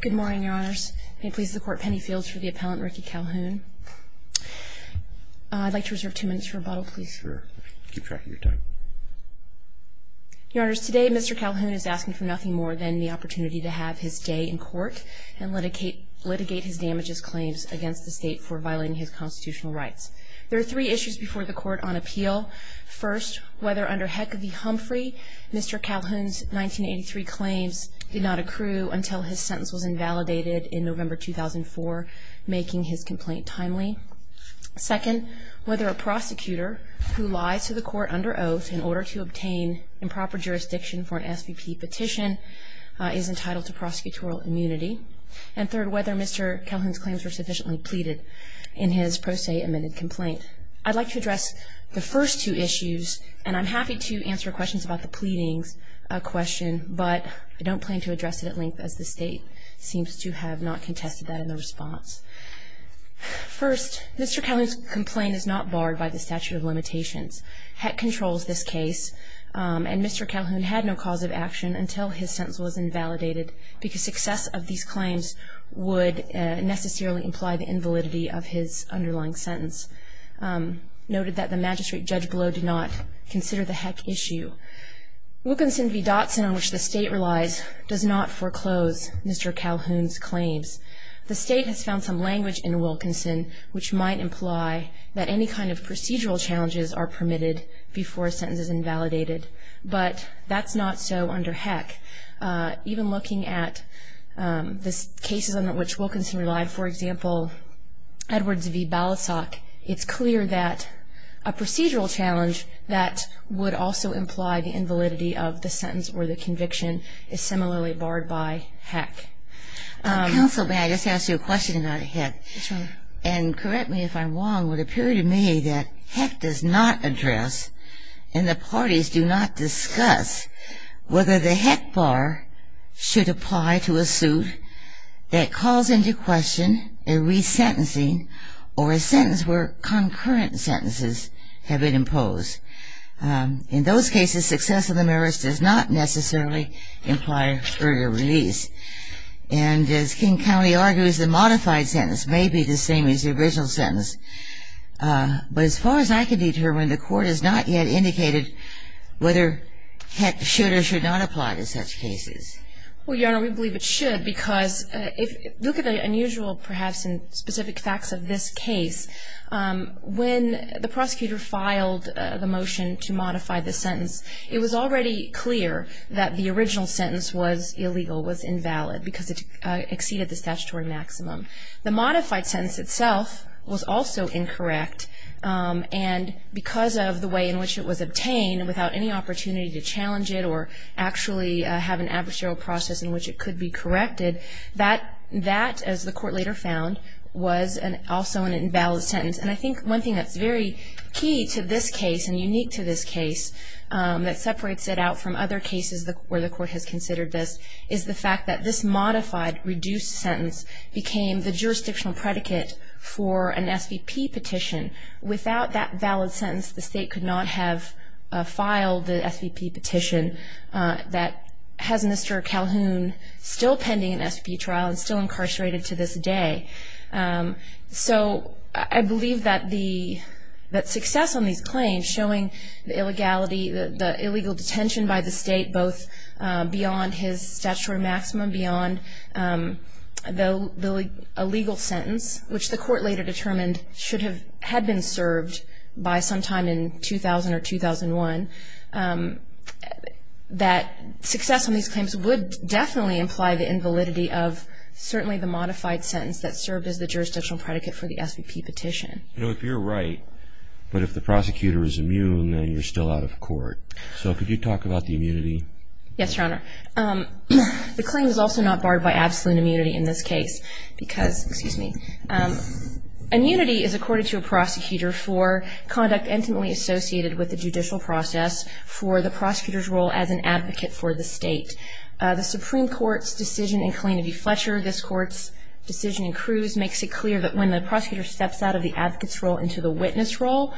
Good morning, Your Honors. May it please the Court, Penny Fields for the appellant, Ricky Calhoun. I'd like to reserve two minutes for rebuttal, please. Sure. Keep track of your time. Your Honors, today Mr. Calhoun is asking for nothing more than the opportunity to have his day in court and litigate his damages claims against the state for violating his constitutional rights. There are three issues before the Court on appeal. First, whether under Heck v. Humphrey, Mr. Calhoun's 1983 claims did not accrue until his sentence was invalidated in November 2004, making his complaint timely. Second, whether a prosecutor who lies to the Court under oath in order to obtain improper jurisdiction for an SVP petition is entitled to prosecutorial immunity. And third, whether Mr. Calhoun's claims were sufficiently pleaded in his pro se amended complaint. I'd like to address the first two issues, and I'm happy to answer questions about the pleadings question, but I don't plan to address it at length as the state seems to have not contested that in the response. First, Mr. Calhoun's complaint is not barred by the statute of limitations. Heck controls this case, and Mr. Calhoun had no cause of action until his sentence was invalidated because success of these claims would necessarily imply the invalidity of his underlying sentence. Mr. Calhoun's complaint is not barred by the statute of limitations. Heck controls this case, and Mr. Calhoun had no cause of action until his sentence was invalidated because success of these claims would necessarily imply the invalidity of his underlying sentence. It's clear that a procedural challenge that would also imply the invalidity of the sentence or the conviction is similarly barred by Heck. Counsel, may I just ask you a question about Heck? Yes, Your Honor. And correct me if I'm wrong, but it would appear to me that Heck does not address and the parties do not discuss whether the Heck bar should apply to a suit that calls into question a resentencing or a sentence where concurrent sentences have been imposed. In those cases, success of the merits does not necessarily imply further release. And as King County argues, the modified sentence may be the same as the original sentence. But as far as I can determine, the Court has not yet indicated whether Heck should or should not apply to such cases. Well, Your Honor, we believe it should because if you look at the unusual perhaps in specific facts of this case, when the prosecutor filed the motion to modify the sentence, it was already clear that the original sentence was illegal, was invalid because it exceeded the statutory maximum. The modified sentence itself was also incorrect, and because of the way in which it was obtained without any opportunity to challenge it or actually have an adversarial process in which it could be corrected, that, as the Court later found, was also an invalid sentence. And I think one thing that's very key to this case and unique to this case that separates it out from other cases where the Court has considered this is the fact that this modified, reduced sentence became the jurisdictional predicate for an SVP petition. Without that valid sentence, the State could not have filed the SVP petition that has Mr. Calhoun still pending an SVP trial and still incarcerated to this day. So I believe that success on these claims, showing the illegality, the illegal detention by the State, both beyond his statutory maximum, beyond a legal sentence, which the Court later determined should have, had been served by sometime in 2000 or 2001, that success on these claims would definitely imply the invalidity of certainly the modified sentence that's still pending. And that's why it served as the jurisdictional predicate for the SVP petition. You know, if you're right, but if the prosecutor is immune, then you're still out of court. So could you talk about the immunity? Yes, Your Honor. The claim is also not barred by absolute immunity in this case because, excuse me, immunity is according to a prosecutor for conduct intimately associated with the judicial process for the prosecutor's role as an advocate for the State. The Supreme Court's decision in Kalanity Fletcher, this Court's decision in Cruz, makes it clear that when the prosecutor steps out of the advocate's role into the witness role,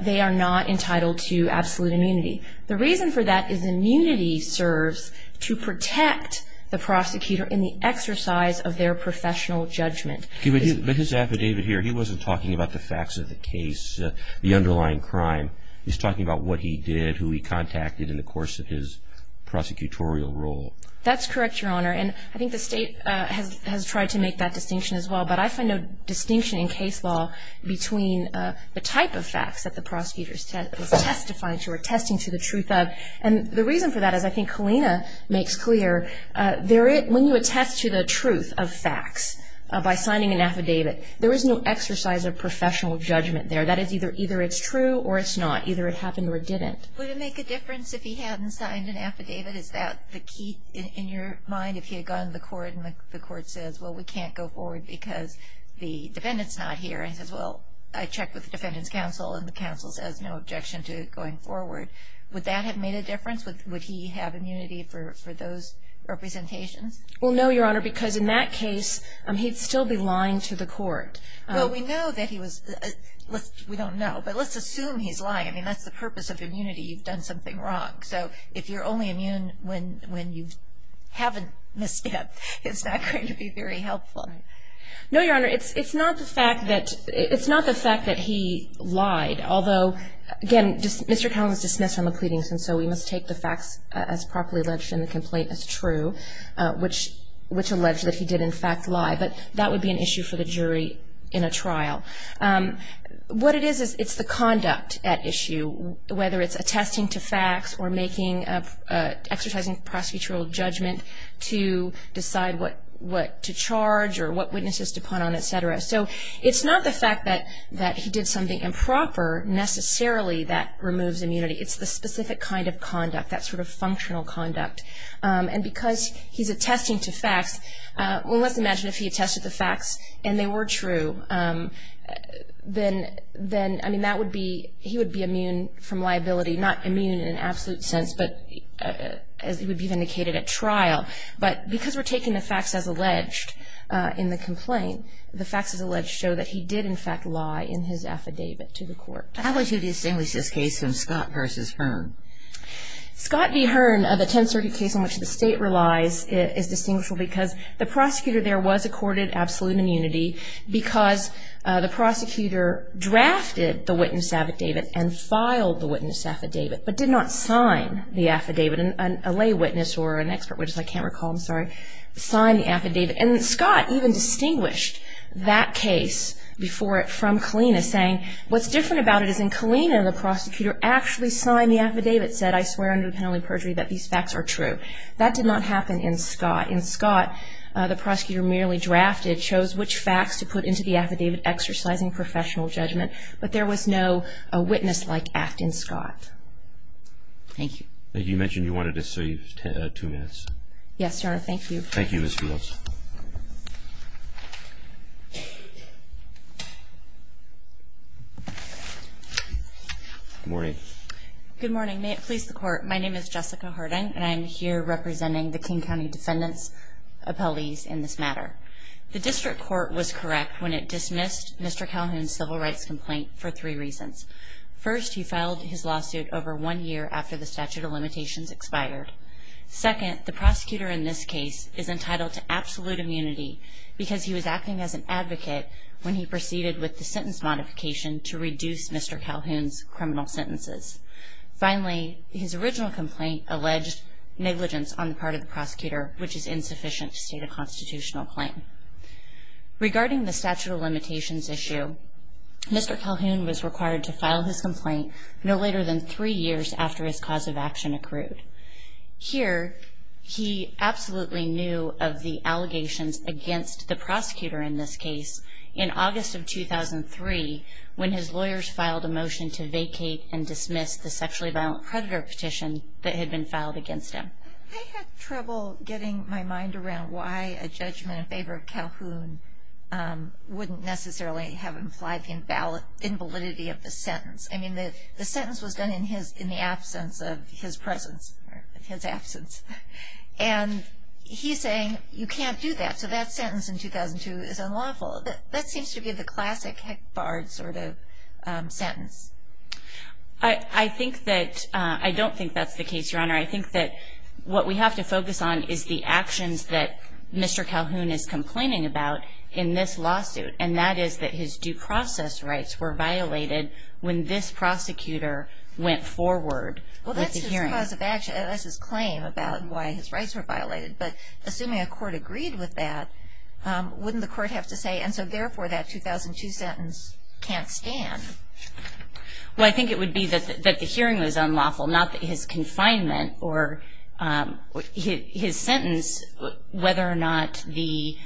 they are not entitled to absolute immunity. The reason for that is immunity serves to protect the prosecutor in the exercise of their professional judgment. But his affidavit here, he wasn't talking about the facts of the case, the underlying crime. He was talking about what he did, who he contacted in the course of his prosecutorial role. That's correct, Your Honor. And I think the State has tried to make that distinction as well. But I find no distinction in case law between the type of facts that the prosecutor is testifying to or attesting to the truth of. And the reason for that is, I think Kalina makes clear, when you attest to the truth of facts by signing an affidavit, there is no exercise of professional judgment there. That is either it's true or it's not. Either it happened or it didn't. Would it make a difference if he hadn't signed an affidavit? Is that the key in your mind if he had gone to the court and the court says, well, we can't go forward because the defendant's not here? And he says, well, I checked with the defendant's counsel and the counsel says no objection to going forward. Would that have made a difference? Would he have immunity for those representations? Well, no, Your Honor, because in that case, he'd still be lying to the court. Well, we know that he was – we don't know, but let's assume he's lying. I mean, that's the purpose of immunity. You've done something wrong. So if you're only immune when you haven't missed it, it's not going to be very helpful. No, Your Honor. It's not the fact that – it's not the fact that he lied. Although, again, Mr. Cowling was dismissed from the pleadings, and so we must take the facts as properly alleged in the complaint as true, which alleged that he did, in fact, lie. But that would be an issue for the jury in a trial. What it is is it's the conduct at issue, whether it's attesting to facts or exercising prosecutorial judgment to decide what to charge or what witnesses to punt on, et cetera. So it's not the fact that he did something improper necessarily that removes immunity. It's the specific kind of conduct, that sort of functional conduct. And because he's attesting to facts – well, let's imagine if he attested to facts and they were true, then, I mean, that would be – he would be immune from liability. Not immune in an absolute sense, but as it would be vindicated at trial. But because we're taking the facts as alleged in the complaint, the facts as alleged show that he did, in fact, lie in his affidavit to the court. How would you distinguish this case from Scott v. Hearn? Scott v. Hearn, the Tenth Circuit case on which the State relies, is distinguishable because the prosecutor there was accorded absolute immunity because the prosecutor drafted the witness affidavit and filed the witness affidavit, but did not sign the affidavit. A lay witness or an expert witness – I can't recall, I'm sorry – signed the affidavit. And Scott even distinguished that case from Kalina, saying, what's different about it is in Kalina the prosecutor actually signed the affidavit, said, I swear under the penalty of perjury that these facts are true. That did not happen in Scott. In Scott, the prosecutor merely drafted, chose which facts to put into the affidavit exercising professional judgment. But there was no witness-like act in Scott. Thank you. You mentioned you wanted to save two minutes. Yes, Your Honor, thank you. Thank you, Ms. Fields. Good morning. Good morning. May it please the Court, my name is Jessica Harding and I'm here representing the King County Defendant's appellees in this matter. The district court was correct when it dismissed Mr. Calhoun's civil rights complaint for three reasons. First, he filed his lawsuit over one year after the statute of limitations expired. Second, the prosecutor in this case is entitled to absolute immunity because he was acting as an advocate when he proceeded with the sentence modification to reduce Mr. Calhoun's criminal sentences. Finally, his original complaint alleged negligence on the part of the prosecutor, which is insufficient to state a constitutional claim. Regarding the statute of limitations issue, Mr. Calhoun was required to file his complaint no later than three years after his cause of action accrued. Here, he absolutely knew of the allegations against the prosecutor in this case in August of 2003 when his lawyers filed a motion to vacate and dismiss the sexually violent predator petition that had been filed against him. I had trouble getting my mind around why a judgment in favor of Calhoun wouldn't necessarily have implied the invalidity of the sentence. I mean, the sentence was done in the absence of his presence, his absence. And he's saying you can't do that, so that sentence in 2002 is unlawful. That seems to be the classic Hick-Bard sort of sentence. I don't think that's the case, Your Honor. I think that what we have to focus on is the actions that Mr. Calhoun is complaining about in this lawsuit, and that is that his due process rights were violated when this prosecutor went forward with the hearing. Well, that's his claim about why his rights were violated, but assuming a court agreed with that, wouldn't the court have to say, and so therefore that 2002 sentence can't stand? Well, I think it would be that the hearing was unlawful, not that his confinement or his sentence, whether or not the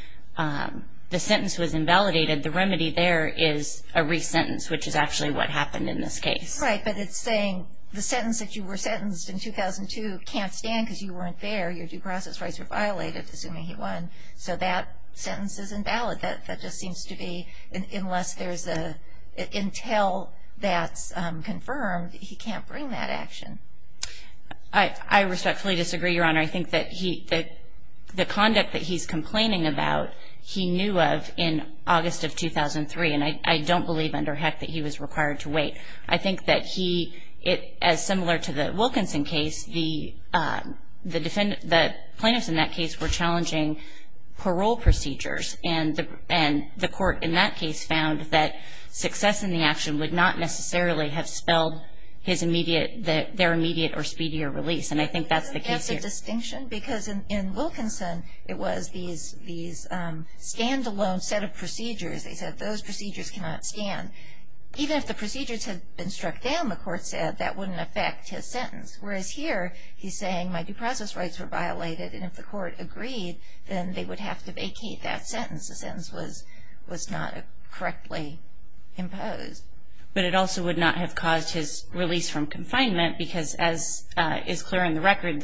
sentence was invalidated, the remedy there is a re-sentence, which is actually what happened in this case. Right, but it's saying the sentence that you were sentenced in 2002 can't stand because you weren't there, your due process rights were violated, assuming he won, so that sentence is invalid. That just seems to be unless there's an intel that's confirmed, he can't bring that action. I respectfully disagree, Your Honor. I think that the conduct that he's complaining about he knew of in August of 2003, and I don't believe under heck that he was required to wait. I think that he, as similar to the Wilkinson case, the plaintiffs in that case were challenging parole procedures, and the court in that case found that success in the action would not necessarily have spelled their immediate or speedier release, and I think that's the case here. Isn't that the distinction? Because in Wilkinson it was these standalone set of procedures. They said those procedures cannot stand. Even if the procedures had been struck down, the court said, that wouldn't affect his sentence, whereas here he's saying my due process rights were violated, and if the court agreed then they would have to vacate that sentence. The sentence was not correctly imposed. But it also would not have caused his release from confinement because, as is clear in the record,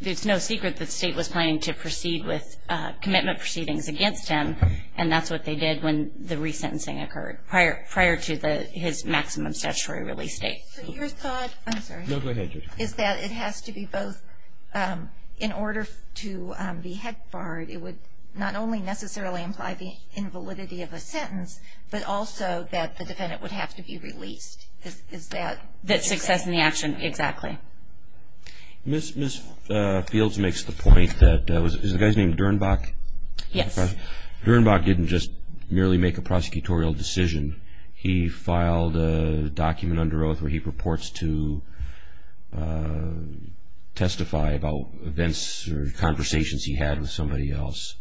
there's no secret that the state was planning to proceed with commitment proceedings against him, and that's what they did when the resentencing occurred prior to his maximum statutory release date. So your thought is that it has to be both in order to be heck barred, it would not only necessarily imply the invalidity of a sentence, but also that the defendant would have to be released. That success in the action, exactly. Ms. Fields makes the point that, is the guy's name Dernbach? Yes. Dernbach didn't just merely make a prosecutorial decision. He filed a document under oath where he purports to testify about events or conversations he had with somebody else.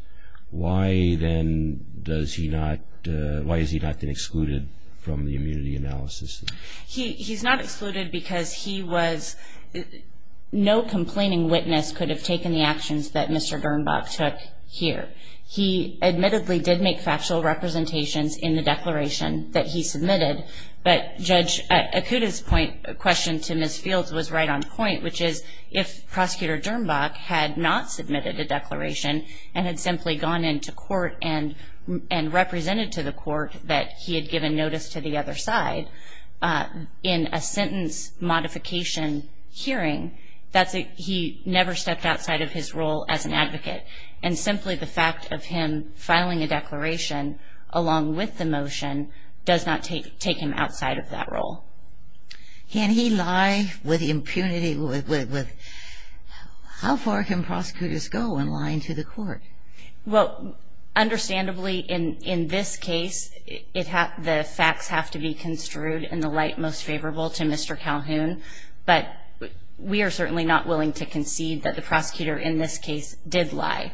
Why then does he not, why has he not been excluded from the immunity analysis? He's not excluded because he was, no complaining witness could have taken the actions that Mr. Dernbach took here. He admittedly did make factual representations in the declaration that he submitted, but Judge Okuda's question to Ms. Fields was right on point, which is if Prosecutor Dernbach had not submitted a declaration and had simply gone into court and represented to the court that he had given notice to the other side, in a sentence modification hearing, that's a, he never stepped outside of his role as an advocate. And simply the fact of him filing a declaration along with the motion does not take him outside of that role. Can he lie with impunity, with, how far can prosecutors go in lying to the court? Well, understandably in this case, the facts have to be construed in the light most favorable to Mr. Calhoun, but we are certainly not willing to concede that the prosecutor in this case did lie.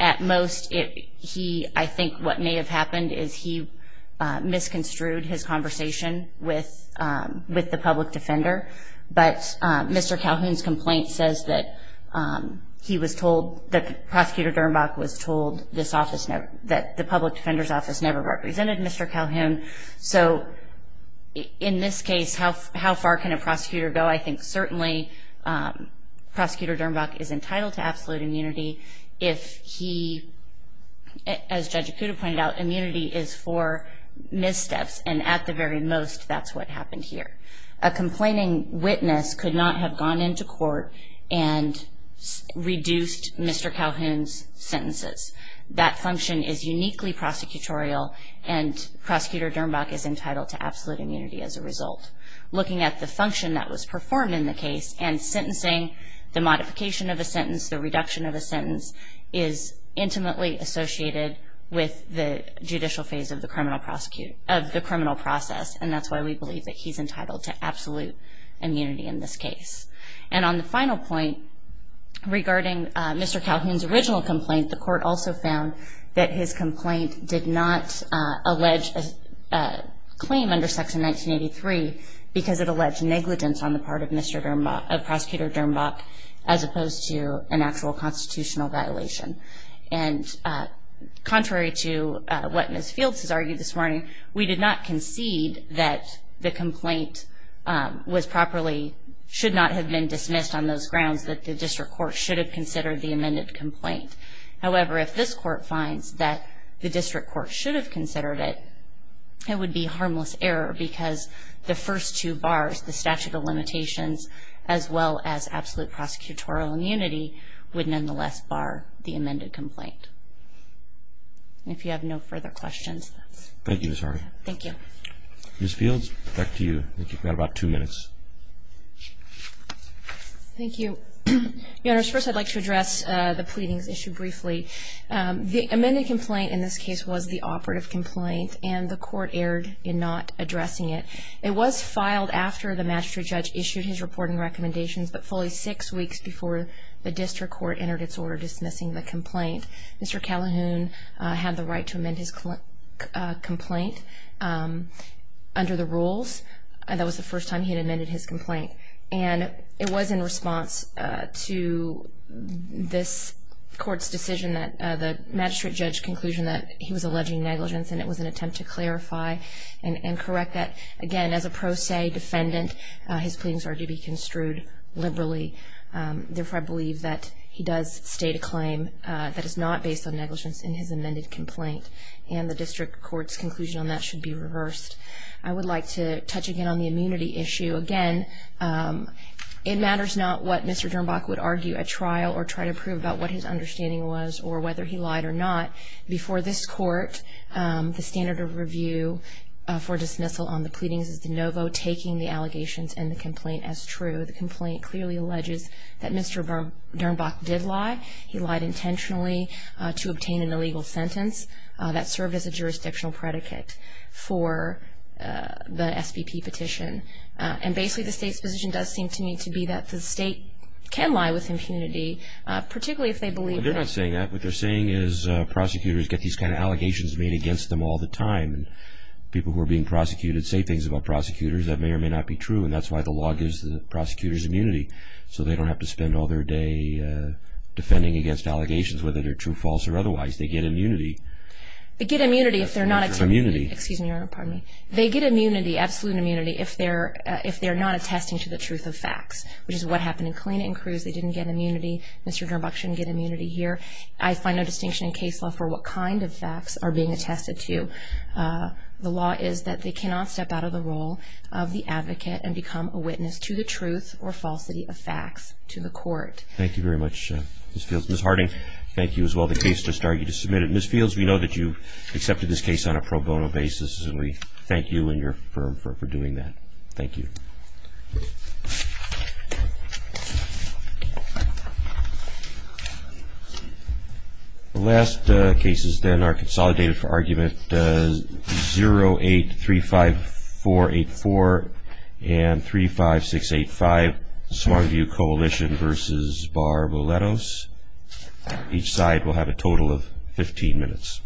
At most, he, I think what may have happened is he misconstrued his conversation with the public defender, but Mr. Calhoun's complaint says that he was told, that Prosecutor Dernbach was told this office, that the public defender's office never represented Mr. Calhoun. So in this case, how far can a prosecutor go? I think certainly Prosecutor Dernbach is entitled to absolute immunity if he, as Judge Acuda pointed out, immunity is for missteps, and at the very most, that's what happened here. A complaining witness could not have gone into court and reduced Mr. Calhoun's sentences. That function is uniquely prosecutorial, and Prosecutor Dernbach is entitled to absolute immunity as a result. Looking at the function that was performed in the case and sentencing, the modification of a sentence, the reduction of a sentence, is intimately associated with the judicial phase of the criminal process, and that's why we believe that he's entitled to absolute immunity in this case. And on the final point, regarding Mr. Calhoun's original complaint, the court also found that his complaint did not allege a claim under Section 1983 because it alleged negligence on the part of Mr. Dernbach, of Prosecutor Dernbach, as opposed to an actual constitutional violation. And contrary to what Ms. Fields has argued this morning, we did not concede that the complaint was properly, should not have been dismissed on those grounds, that the district court should have considered the amended complaint. However, if this court finds that the district court should have considered it, it would be harmless error because the first two bars, the statute of limitations, as well as absolute prosecutorial immunity, would nonetheless bar the amended complaint. If you have no further questions. Thank you, Ms. Harvey. Thank you. Ms. Fields, back to you. You've got about two minutes. Thank you. Your Honors, first I'd like to address the pleadings issued briefly. The amended complaint in this case was the operative complaint, and the court erred in not addressing it. It was filed after the magistrate judge issued his reporting recommendations, but fully six weeks before the district court entered its order dismissing the complaint. Mr. Calhoun had the right to amend his complaint under the rules. That was the first time he had amended his complaint. And it was in response to this court's decision, the magistrate judge's conclusion that he was alleging negligence, and it was an attempt to clarify and correct that. Again, as a pro se defendant, his pleadings are to be construed liberally. Therefore, I believe that he does state a claim that is not based on negligence in his amended complaint, and the district court's conclusion on that should be reversed. I would like to touch again on the immunity issue. Again, it matters not what Mr. Dernbach would argue at trial or try to prove about what his understanding was or whether he lied or not. Before this court, the standard of review for dismissal on the pleadings is de novo, taking the allegations in the complaint as true. The complaint clearly alleges that Mr. Dernbach did lie. He lied intentionally to obtain an illegal sentence. That served as a jurisdictional predicate for the SBP petition. And basically the state's position does seem to me to be that the state can lie with impunity, particularly if they believe that. They're not saying that. What they're saying is prosecutors get these kind of allegations made against them all the time. People who are being prosecuted say things about prosecutors that may or may not be true, and that's why the law gives the prosecutors immunity so they don't have to spend all their day defending against allegations, whether they're true, false, or otherwise. They get immunity. They get immunity if they're not attesting to the truth of facts, which is what happened in Kalina and Cruz. They didn't get immunity. Mr. Dernbach shouldn't get immunity here. I find no distinction in case law for what kind of facts are being attested to. The law is that they cannot step out of the role of the advocate and become a witness to the truth or falsity of facts to the court. Thank you very much, Ms. Fields. Again, thank you as well. The case just started. You just submitted it. Ms. Fields, we know that you accepted this case on a pro bono basis, and we thank you and your firm for doing that. Thank you. The last cases then are consolidated for argument 0835484 and 35685, Swanview Coalition v. Bar Willettos. Each side will have a total of 15 minutes.